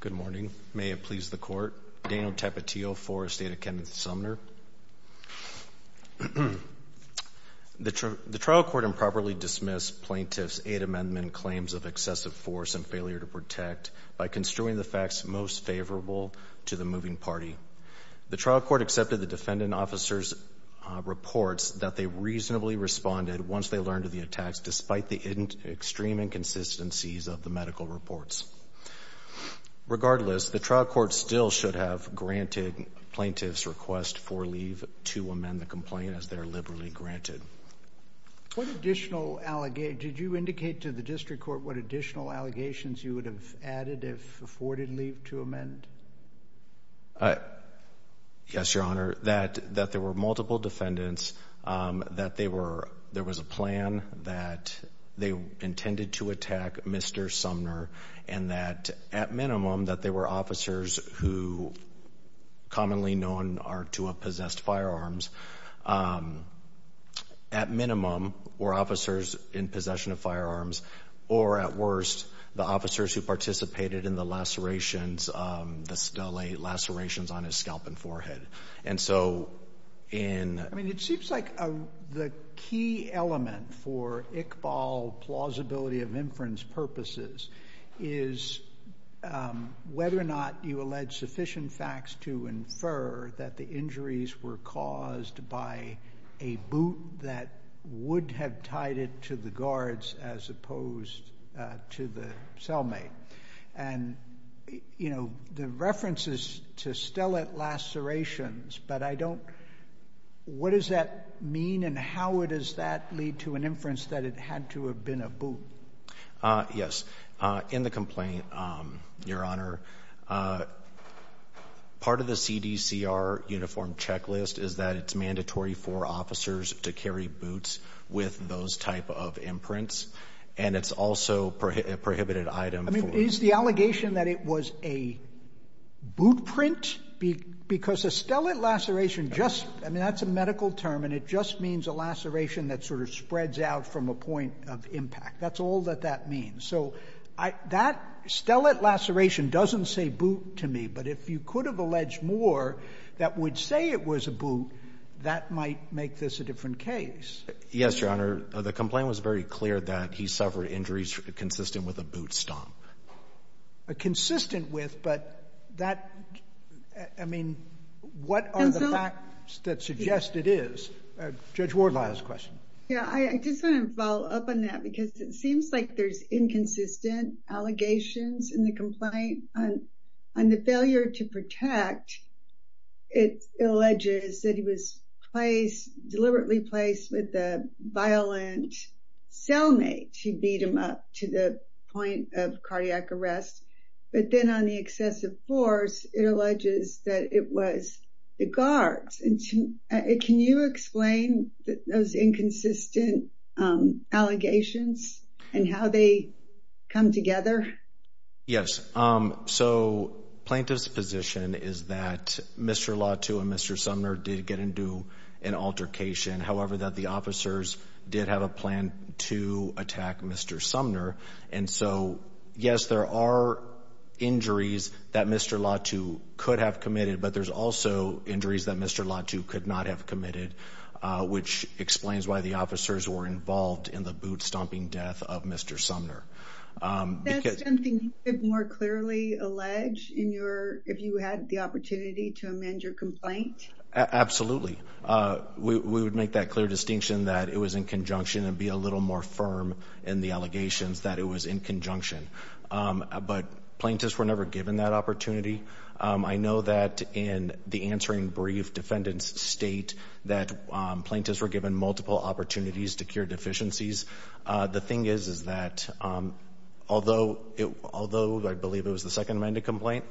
Good morning. May it please the Court. Daniel Tapatio for Estate of Kenneth Sumner. The trial court improperly dismissed Plaintiff's Eight Amendment claims of excessive force and failure to protect by construing the facts most favorable to the moving party. The trial court accepted the defendant officer's reports that they reasonably responded once they learned of the attacks despite the extreme inconsistencies of the medical reports. Regardless, the trial court still should have granted Plaintiff's request for leave to amend the complaint as they are liberally granted. Did you indicate to the district court what additional allegations you would have added if afforded leave to amend? Yes, Your Honor, that there were multiple defendants, that there was a plan, that they intended to attack Mr. Sumner, and that at minimum that they were officers who commonly known to have possessed firearms. At minimum, were officers in possession of firearms, or at worst, the officers who participated in the lacerations on his scalp and forehead. I mean, it seems like the key element for Iqbal plausibility of inference purposes is whether or not you allege sufficient facts to infer that the injuries were caused by a boot that would have tied it to the guards as opposed to the cellmate. And, you know, the reference is to stellate lacerations, but I don't, what does that mean and how does that lead to an inference that it had to have been a boot? Yes, in the complaint, Your Honor, part of the CDCR uniform checklist is that it's mandatory for officers to carry boots with those type of imprints. And it's also a prohibited item. I mean, is the allegation that it was a boot print? Because a stellate laceration just, I mean, that's a medical term, and it just means a laceration that sort of spreads out from a point of impact. That's all that that means. So that stellate laceration doesn't say boot to me, but if you could have alleged more that would say it was a boot, that might make this a different case. Yes, Your Honor. The complaint was very clear that he suffered injuries consistent with a boot stomp. Consistent with, but that, I mean, what are the facts that suggest it is? Judge Wardlaw has a question. Yeah, I just want to follow up on that because it seems like there's inconsistent allegations in the complaint on the failure to protect. It alleges that he was placed, deliberately placed with a violent cellmate to beat him up to the point of cardiac arrest. But then on the excessive force, it alleges that it was the guards. Can you explain those inconsistent allegations and how they come together? Yes. So plaintiff's position is that Mr. Latu and Mr. Sumner did get into an altercation. However, that the officers did have a plan to attack Mr. Sumner. And so, yes, there are injuries that Mr. Latu could have committed, but there's also injuries that Mr. Latu could not have committed, which explains why the officers were involved in the boot stomping death of Mr. Sumner. That's something you could more clearly allege if you had the opportunity to amend your complaint? Absolutely. We would make that clear distinction that it was in conjunction and be a little more firm in the allegations that it was in conjunction. But plaintiffs were never given that opportunity. I know that in the answering brief, defendants state that plaintiffs were given multiple opportunities to cure deficiencies. The thing is, is that although I believe it was the second amended complaint,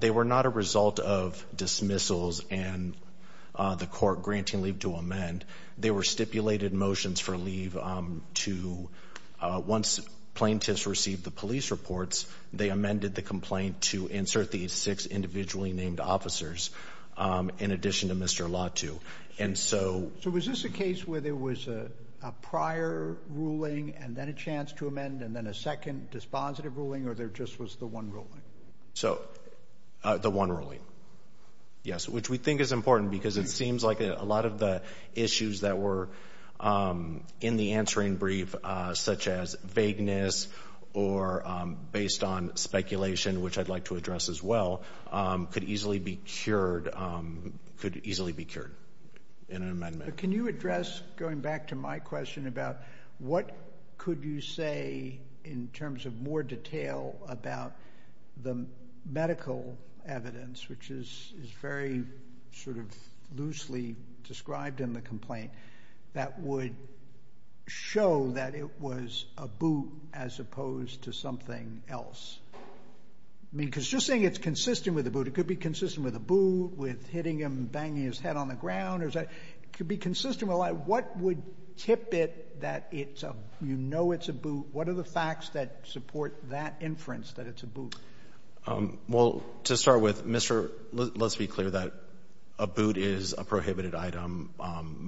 they were not a result of dismissals and the court granting leave to amend. They were stipulated motions for leave to once plaintiffs received the police reports, they amended the complaint to insert the six individually named officers in addition to Mr. Latu. So was this a case where there was a prior ruling and then a chance to amend and then a second dispositive ruling or there just was the one ruling? The one ruling, yes, which we think is important because it seems like a lot of the issues that were in the answering brief such as vagueness or based on speculation, which I'd like to address as well, could easily be cured. Could easily be cured in an amendment. Can you address, going back to my question about what could you say in terms of more detail about the medical evidence, which is very sort of loosely described in the complaint, that would show that it was a boot as opposed to something else? I mean, because you're saying it's consistent with a boot. It could be consistent with a boot, with hitting him, banging his head on the ground. It could be consistent with a lot. What would tip it that you know it's a boot? What are the facts that support that inference that it's a boot? Well, to start with, Mr., let's be clear that a boot is a prohibited item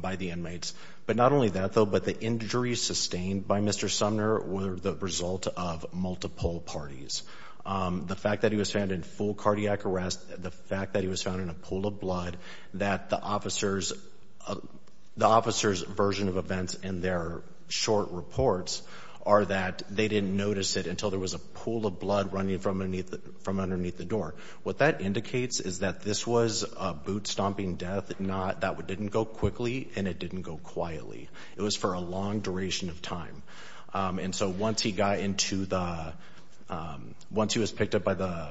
by the inmates. But not only that, though, but the injuries sustained by Mr. Sumner were the result of multiple parties. The fact that he was found in full cardiac arrest, the fact that he was found in a pool of blood, that the officer's version of events in their short reports are that they didn't notice it until there was a pool of blood running from underneath the door. What that indicates is that this was a boot-stomping death that didn't go quickly and it didn't go quietly. It was for a long duration of time. And so once he got into the—once he was picked up by the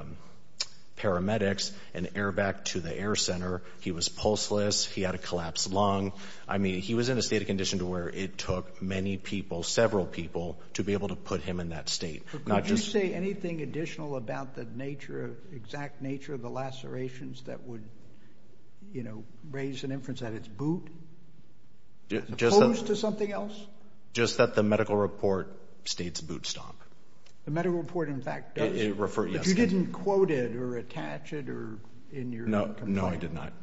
paramedics and air-vacced to the air center, he was pulseless. He had a collapsed lung. I mean, he was in a state of condition to where it took many people, several people, to be able to put him in that state. Could you say anything additional about the nature, exact nature of the lacerations that would, you know, raise an inference that it's boot? Opposed to something else? Just that the medical report states boot-stomp. The medical report, in fact, does. It refers—yes. But you didn't quote it or attach it or in your complaint. No. No, I did not. Okay.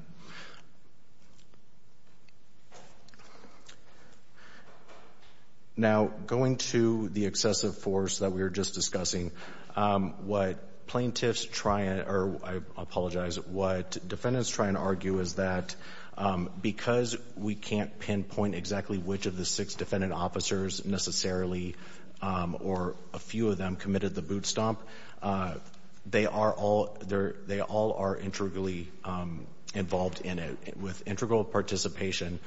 Now, going to the excessive force that we were just discussing, what plaintiffs try—or, I apologize, what defendants try and argue is that because we can't pinpoint exactly which of the six defendant officers necessarily or a few of them committed the boot-stomp, they are all—they all are integrally involved in it. With integral participation,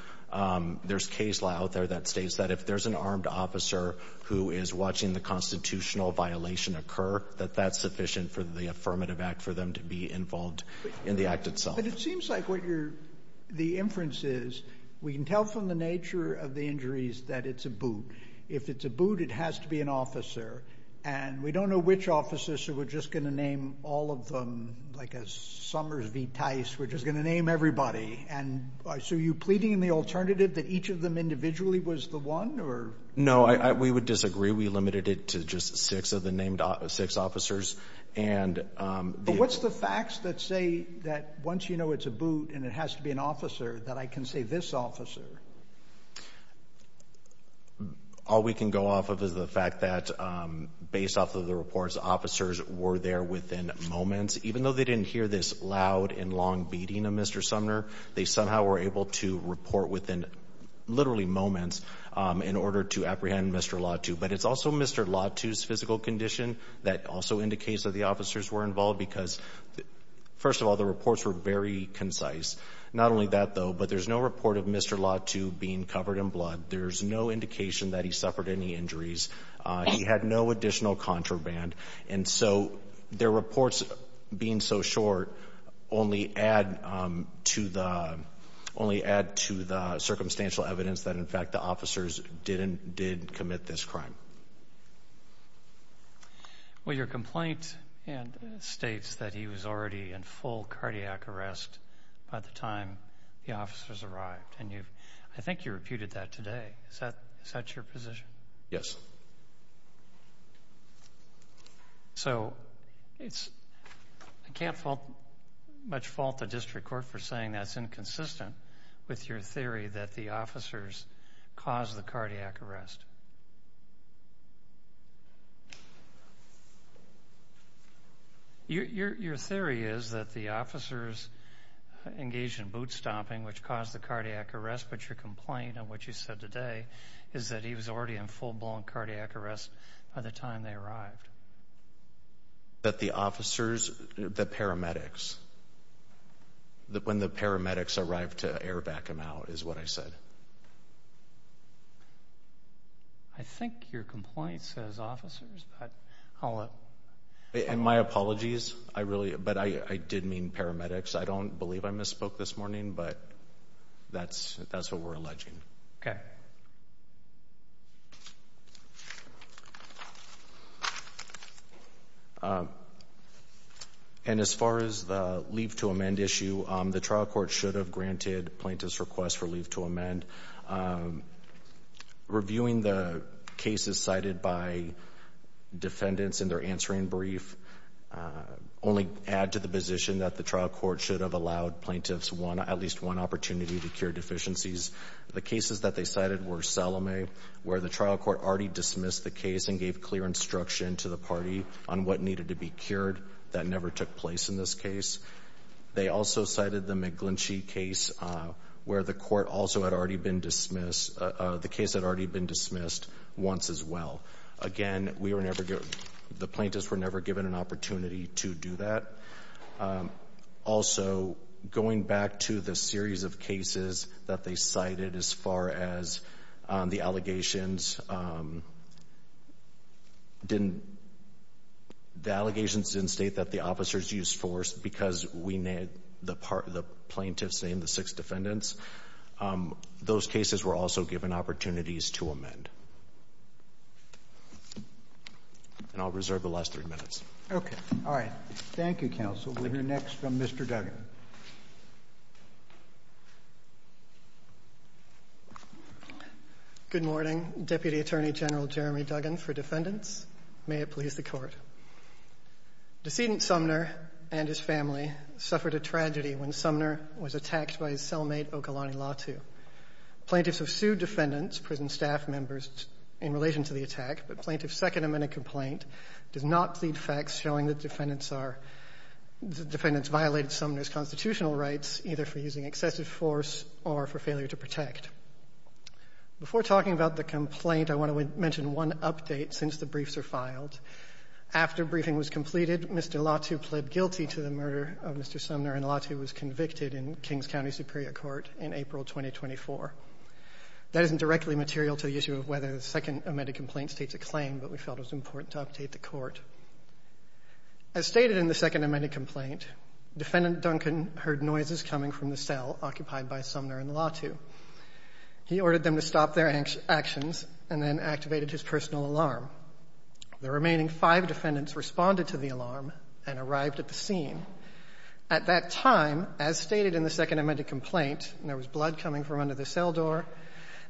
there's case law out there that states that if there's an armed officer who is watching the constitutional violation occur, that that's sufficient for the affirmative act for them to be involved in the act itself. But it seems like what you're—the inference is we can tell from the nature of the injuries that it's a boot. If it's a boot, it has to be an officer. And we don't know which officers, so we're just going to name all of them like a Summers v. Tice. We're just going to name everybody. And so are you pleading in the alternative that each of them individually was the one or—? No, we would disagree. We limited it to just six of the named—six officers. And— But what's the facts that say that once you know it's a boot and it has to be an officer, that I can say this officer? All we can go off of is the fact that based off of the reports, officers were there within moments. Even though they didn't hear this loud and long beating of Mr. Sumner, they somehow were able to report within literally moments in order to apprehend Mr. Latu. But it's also Mr. Latu's physical condition that also indicates that the officers were involved because, first of all, the reports were very concise. Not only that, though, but there's no report of Mr. Latu being covered in blood. There's no indication that he suffered any injuries. He had no additional contraband. And so their reports being so short only add to the—only add to the circumstantial evidence that, in fact, the officers didn't—did commit this crime. Well, your complaint states that he was already in full cardiac arrest by the time the officers arrived. And you've—I think you reputed that today. Is that—is that your position? Yes. So it's—I can't fault—much fault the district court for saying that's inconsistent with your theory that the officers caused the cardiac arrest. Your theory is that the officers engaged in boot-stomping, which caused the cardiac arrest, but your complaint on what you said today is that he was already in full-blown cardiac arrest by the time they arrived. That the officers—the paramedics—when the paramedics arrived to air back him out is what I said. I think your complaint says officers, but I'll— And my apologies. I really—but I did mean paramedics. I don't believe I misspoke this morning, but that's what we're alleging. Okay. And as far as the leave to amend issue, the trial court should have granted plaintiffs' request for leave to amend. Reviewing the cases cited by defendants in their answering brief only add to the position that the trial court should have allowed plaintiffs one—at least one opportunity to cure deficiencies. The cases that they cited were Salome, where the trial court already dismissed the case and gave clear instruction to the party on what needed to be cured. That never took place in this case. They also cited the McGlinchey case, where the court also had already been dismissed— the case had already been dismissed once as well. Again, we were never—the plaintiffs were never given an opportunity to do that. Also, going back to the series of cases that they cited as far as the allegations, the allegations didn't state that the officers used force because the plaintiffs named the six defendants. Those cases were also given opportunities to amend. And I'll reserve the last three minutes. Okay. All right. Thank you, counsel. We'll hear next from Mr. Duggan. Good morning. Deputy Attorney General Jeremy Duggan for defendants. May it please the Court. Decedent Sumner and his family suffered a tragedy when Sumner was attacked by his cellmate, Ogalani Latu. Plaintiffs have sued defendants, prison staff members, in relation to the attack, but plaintiff's Second Amendment complaint does not plead facts showing that defendants are— that defendants violated Sumner's constitutional rights, either for using excessive force or for failure to protect. Before talking about the complaint, I want to mention one update since the briefs are filed. After briefing was completed, Mr. Latu pled guilty to the murder of Mr. Sumner, and Latu was convicted in Kings County Superior Court in April 2024. That isn't directly material to the issue of whether the Second Amendment complaint states a claim, but we felt it was important to update the Court. As stated in the Second Amendment complaint, defendant Duggan heard noises coming from the cell occupied by Sumner and Latu. He ordered them to stop their actions and then activated his personal alarm. The remaining five defendants responded to the alarm and arrived at the scene. At that time, as stated in the Second Amendment complaint, there was blood coming from under the cell door,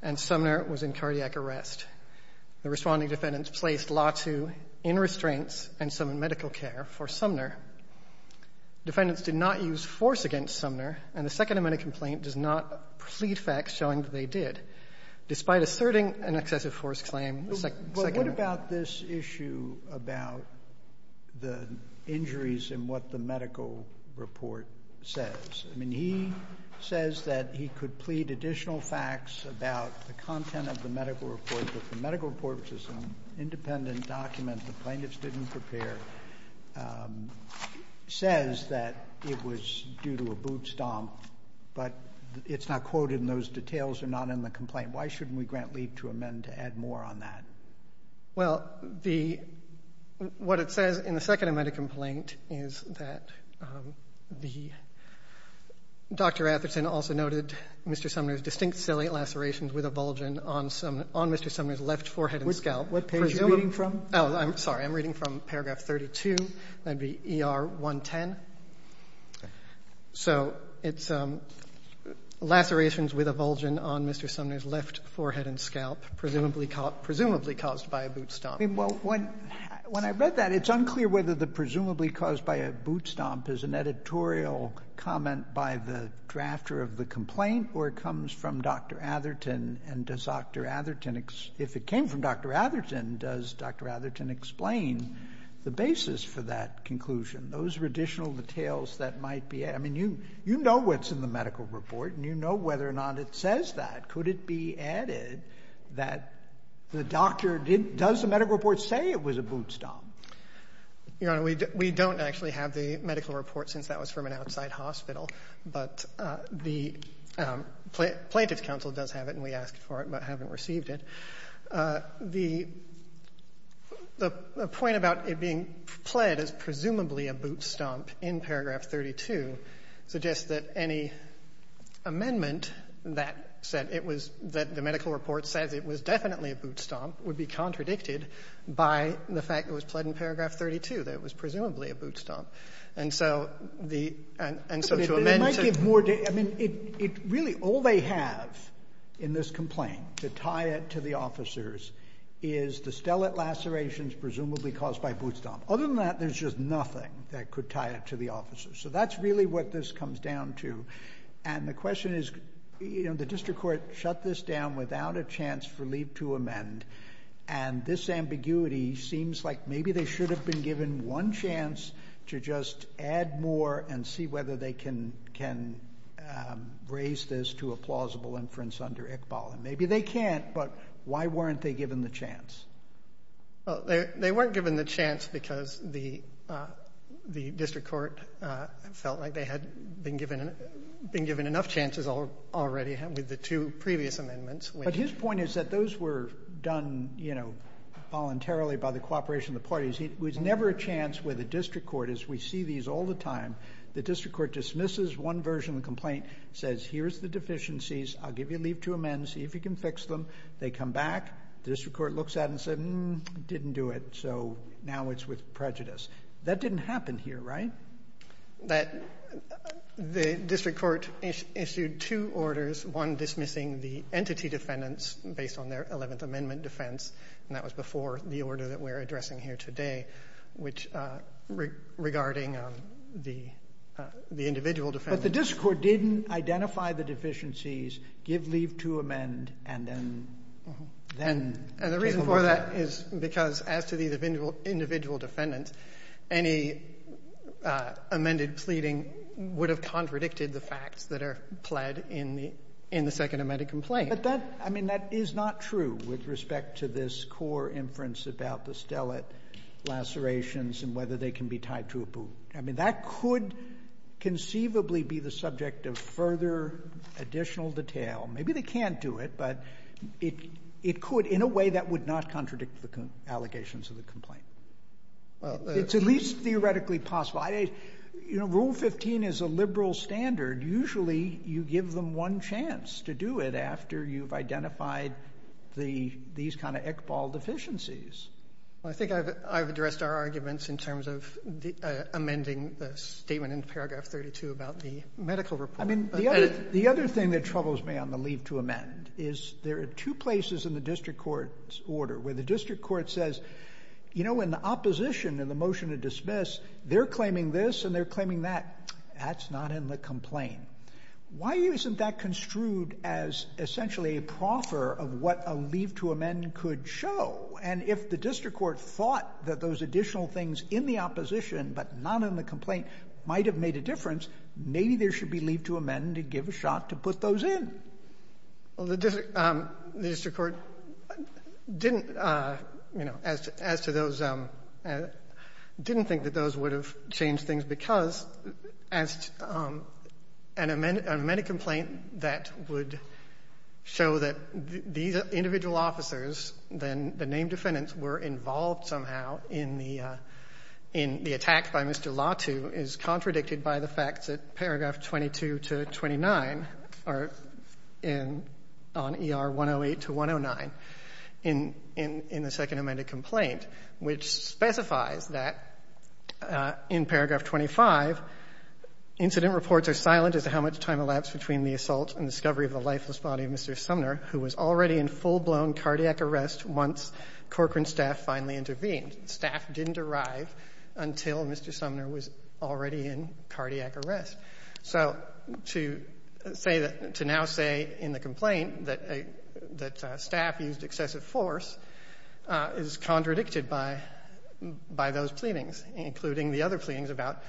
and Sumner was in cardiac arrest. The responding defendants placed Latu in restraints and summoned medical care for Sumner. Defendants did not use force against Sumner, and the Second Amendment complaint does not plead facts showing that they did, despite asserting an excessive force claim. The Second Amendment. Sotomayor, what about this issue about the injuries in what the medical report says? I mean, he says that he could plead additional facts about the content of the medical report, but the medical report is an independent document the plaintiffs didn't prepare, says that it was due to a boot stomp, but it's not quoted, and those details are not in the complaint. Why shouldn't we grant leave to amend to add more on that? Well, the what it says in the Second Amendment complaint is that the Dr. Atherton also noted Mr. Sumner's distinct ciliate lacerations with a bulge on Mr. Sumner's left forehead and scalp. What page are you reading from? Oh, I'm sorry. I'm reading from paragraph 32. That would be ER 110. So it's lacerations with a bulge on Mr. Sumner's left forehead and scalp, presumably caused by a boot stomp. I mean, well, when I read that, it's unclear whether the presumably caused by a boot stomp is an editorial comment by the drafter of the complaint, or it comes from Dr. Atherton. And does Dr. Atherton, if it came from Dr. Atherton, does Dr. Atherton explain the basis for that conclusion? Those are additional details that might be added. I mean, you know what's in the medical report, and you know whether or not it says that. Could it be added that the doctor didn't, does the medical report say it was a boot stomp? Your Honor, we don't actually have the medical report since that was from an outside hospital. But the Plaintiffs' Counsel does have it, and we asked for it but haven't received it. The point about it being pled as presumably a boot stomp in paragraph 32 suggests that any amendment that said it was, that the medical report says it was definitely a boot stomp would be contradicted by the fact it was pled in paragraph 32, that it was presumably a boot stomp. And so the, and so to amend to... But it might give more, I mean, it really, all they have in this complaint to tie it to the officers is the stellate lacerations presumably caused by boot stomp. Other than that, there's just nothing that could tie it to the officers. So that's really what this comes down to. And the question is, you know, the district court shut this down without a chance for leave to amend, and this ambiguity seems like maybe they should have been given one chance to just add more and see whether they can raise this to a plausible inference under Iqbal. And maybe they can't, but why weren't they given the chance? Well, they weren't given the chance because the district court felt like they had been given enough chances already with the two previous amendments. But his point is that those were done, you know, voluntarily by the cooperation of the parties. There was never a chance where the district court, as we see these all the time, the district court dismisses one version of the complaint, says here's the deficiencies, I'll give you leave to amend, see if you can fix them. They come back. The district court looks at it and says, mm, didn't do it, so now it's with prejudice. That didn't happen here, right? That the district court issued two orders, one dismissing the entity defendants based on their Eleventh Amendment defense, and that was before the order that we're addressing here today, which regarding the individual defendants. But the district court didn't identify the deficiencies, give leave to amend, and then take a look at it. And the reason for that is because as to the individual defendants, any amended pleading would have contradicted the facts that are pled in the Second Amendment complaint. But that, I mean, that is not true with respect to this core inference about the stellate lacerations and whether they can be tied to a boot. I mean, that could conceivably be the subject of further additional detail. Maybe they can't do it, but it could in a way that would not contradict the allegations of the complaint. It's at least theoretically possible. You know, Rule 15 is a liberal standard. Usually you give them one chance to do it after you've identified these kind of Iqbal deficiencies. Well, I think I've addressed our arguments in terms of amending the statement in paragraph 32 about the medical report. I mean, the other thing that troubles me on the leave to amend is there are two places in the district court's order where the district court says, you know, when the opposition in the motion to dismiss, they're claiming this and they're not in the complaint. Why isn't that construed as essentially a proffer of what a leave to amend could show? And if the district court thought that those additional things in the opposition but not in the complaint might have made a difference, maybe there should be leave to amend to give a shot to put those in. Well, the district court didn't, you know, as to those, didn't think that those would have changed things because an amended complaint that would show that these individual officers, then the named defendants, were involved somehow in the attack by Mr. Latu is contradicted by the facts at paragraph 22 to 29, or on ER 108 to 109, in the second amended complaint, which specifies that in paragraph 25, incident reports are silent as to how much time elapsed between the assault and discovery of the lifeless body of Mr. Sumner, who was already in full-blown cardiac arrest once Corcoran staff finally intervened. Staff didn't arrive until Mr. Sumner was already in cardiac arrest. So to say that to now say in the complaint that staff used excessive force is contradicted by those pleadings, including the other pleadings about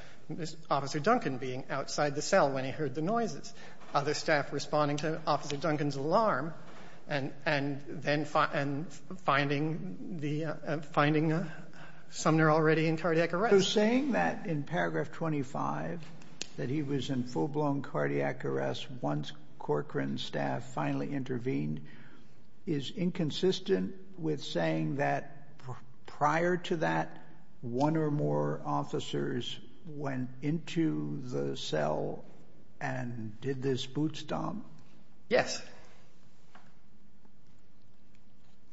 Officer Duncan being outside the cell when he heard the noises, other staff responding to Officer Duncan's alarm and then finding the finding Sumner already in cardiac arrest. So saying that in paragraph 25, that he was in full-blown cardiac arrest once Corcoran staff finally intervened, is inconsistent with saying that prior to that one or more officers went into the cell and did this bootstomp? Yes.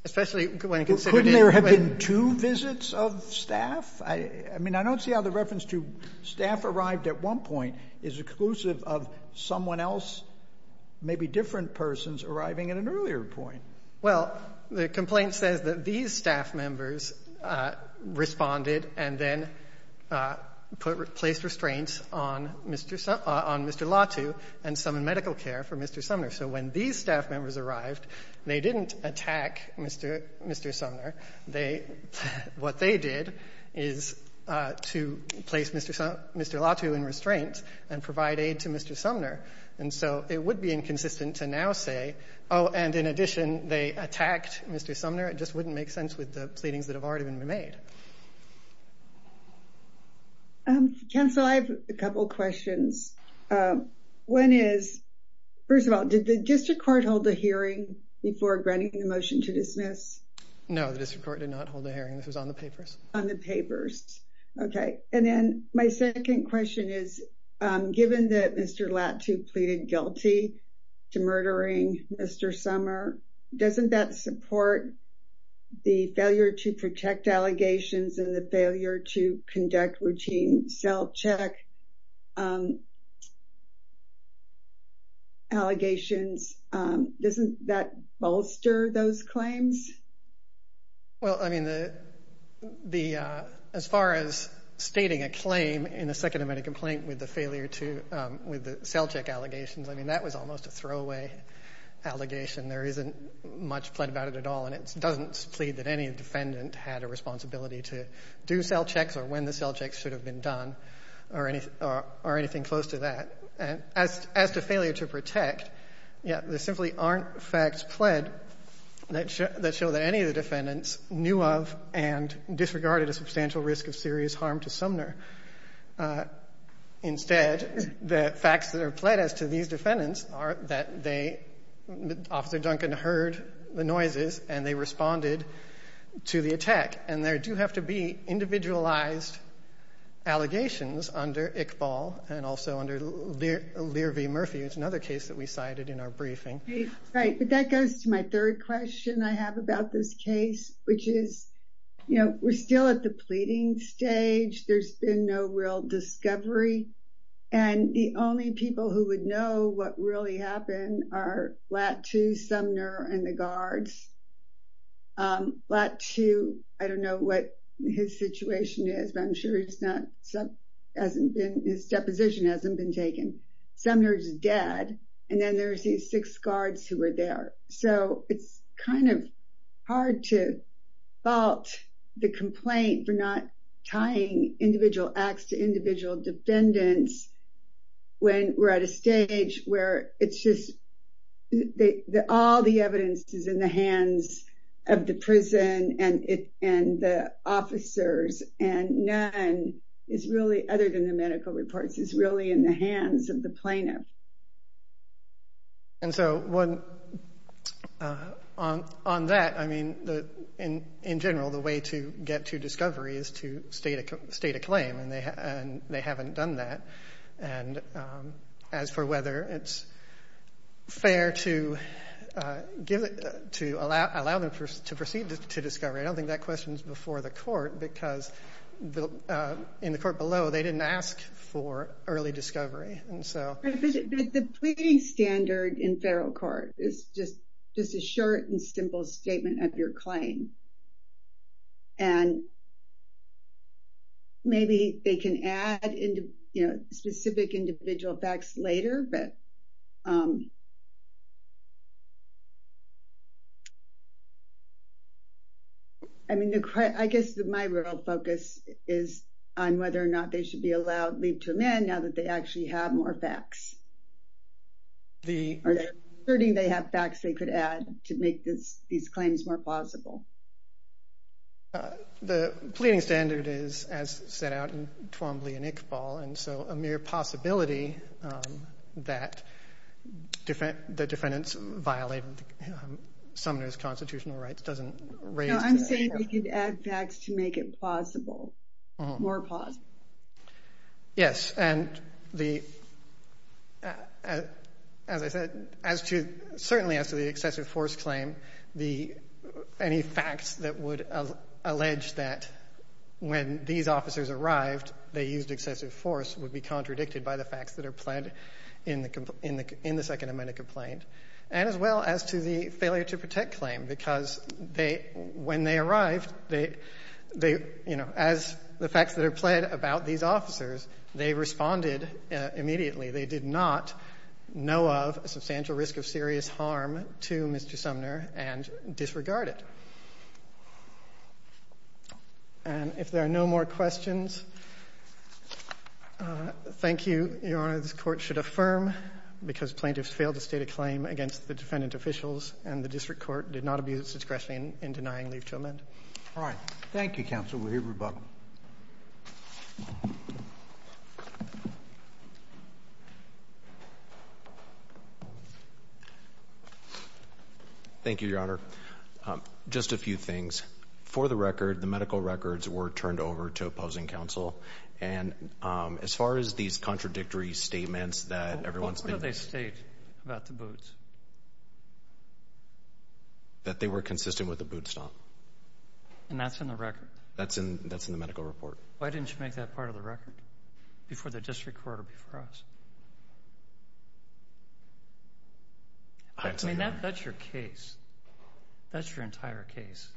Especially when considered in the way of the court. Could there have been two visits of staff? I mean, I don't see how the reference to staff arrived at one point is exclusive of someone else, maybe different persons arriving at an earlier point. Well, the complaint says that these staff members responded and then placed restraints on Mr. Sumner, on Mr. Latu, and some in medical care for Mr. Sumner. So when these staff members arrived, they didn't attack Mr. Sumner. What they did is to place Mr. Latu in restraint and provide aid to Mr. Sumner. And so it would be inconsistent to now say, oh, and in addition, they attacked Mr. Sumner. It just wouldn't make sense with the pleadings that have already been made. Chancellor, I have a couple questions. One is, first of all, did the district court hold a hearing before granting the motion to dismiss? No, the district court did not hold a hearing. This was on the papers. On the papers. Okay. And then my second question is, given that Mr. Latu pleaded guilty to murdering Mr. Sumner, doesn't that support the failure to protect allegations and the failure to conduct routine self-check allegations? Doesn't that bolster those claims? Well, I mean, as far as stating a claim in a second amendment complaint with the self-check allegations, I mean, that was almost a throwaway allegation. There isn't much plead about it at all, and it doesn't plead that any defendant had a responsibility to do self-checks or when the self-checks should have been done or anything close to that. As to failure to protect, there simply aren't facts pled that show that any of the defendants knew of and disregarded a substantial risk of serious harm to Sumner. Instead, the facts that are pled as to these defendants are that they, Officer Duncan heard the noises and they responded to the attack. And there do have to be individualized allegations under Iqbal and also under Lear v. Murphy. It's another case that we cited in our briefing. Right. But that goes to my third question I have about this case, which is, you know, we're still at the pleading stage. There's been no real discovery. And the only people who would know what really happened are Blatt II, Sumner, and the guards. Blatt II, I don't know what his situation is, but I'm sure his deposition hasn't been taken. Sumner's dead, and then there's these six guards who were there. So it's kind of hard to fault the complaint for not tying individual acts to individual defendants when we're at a stage where it's just all the evidence is in the hands of the prison and the officers and none is really, other than the medical reports, is really in the hands of the plaintiff. And so on that, I mean, in general, the way to get to discovery is to state a claim, and they haven't done that. And as for whether it's fair to allow them to proceed to discovery, I don't think that question's before the court because in the court below, they didn't ask for early discovery. But the pleading standard in federal court is just a short and simple statement of your claim. And maybe they can add specific individual facts later, but I mean, I guess my real focus is on whether or not they should be allowed leave to amend now that they actually have more facts. Are there any facts they could add to make these claims more plausible? The pleading standard is, as set out in Twombly and Iqbal, and so a mere possibility that the defendants violated Sumner's constitutional rights doesn't raise the issue. No, I'm saying they could add facts to make it plausible, more plausible. Yes, and as I said, certainly as to the excessive force claim, any facts that would allege that when these officers arrived, they used excessive force would be contradicted by the facts that are pled in the Second Amendment complaint, and as well as to the failure to protect claim because when they arrived, as the facts that are pled about these officers, they responded immediately. They did not know of a substantial risk of serious harm to Mr. Sumner and disregard it. And if there are no more questions, thank you. Your Honor, this Court should affirm, because plaintiffs failed to state a claim against the defendant officials and the district court did not abuse its discretion in denying leave to amend. All right. Thank you, counsel. We'll hear from you. Thank you, Your Honor. Just a few things. For the record, the medical records were turned over to opposing counsel, and as far as these contradictory statements that everyone's been using. What did you state about the boots? That they were consistent with the boot stomp. And that's in the record? That's in the medical report. Why didn't you make that part of the record before the district court or before us? I mean, that's your case. That's your entire case.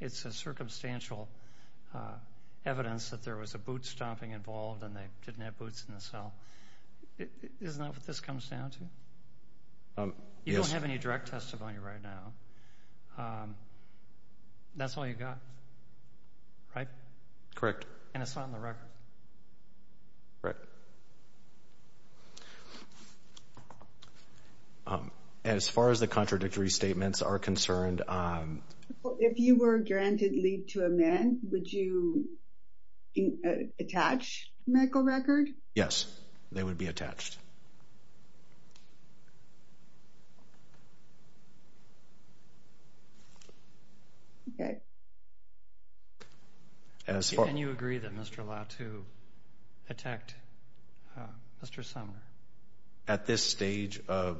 It's a circumstantial evidence that there was a boot stomping involved and they didn't have boots in the cell. Isn't that what this comes down to? You don't have any direct testimony right now. That's all you got, right? Correct. And it's not in the record. Right. As far as the contradictory statements are concerned. If you were granted leave to amend, would you attach medical record? Yes, they would be attached. Can you agree that Mr. Latu attacked Mr. Sumner? At this stage of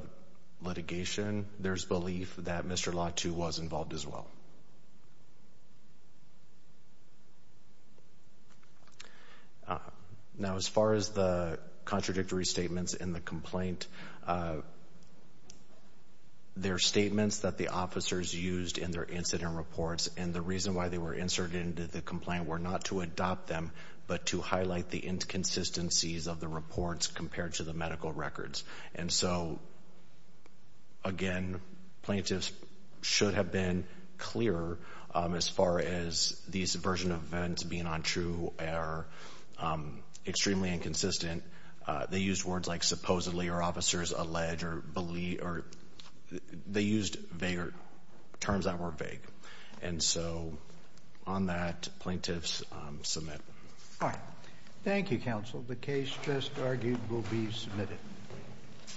litigation, there's belief that Mr. Latu was involved as well. Now, as far as the contradictory statements in the complaint, they're statements that the officers used in their incident reports. And the reason why they were inserted into the complaint were not to adopt them, but to highlight the inconsistencies of the reports compared to the medical records. And so, again, plaintiffs should have been clearer as far as these version of events being untrue or extremely inconsistent. They used words like supposedly or officers alleged or they used terms that were vague. And so, on that, plaintiffs submit. All right. Thank you, counsel. The case, just argued, will be submitted.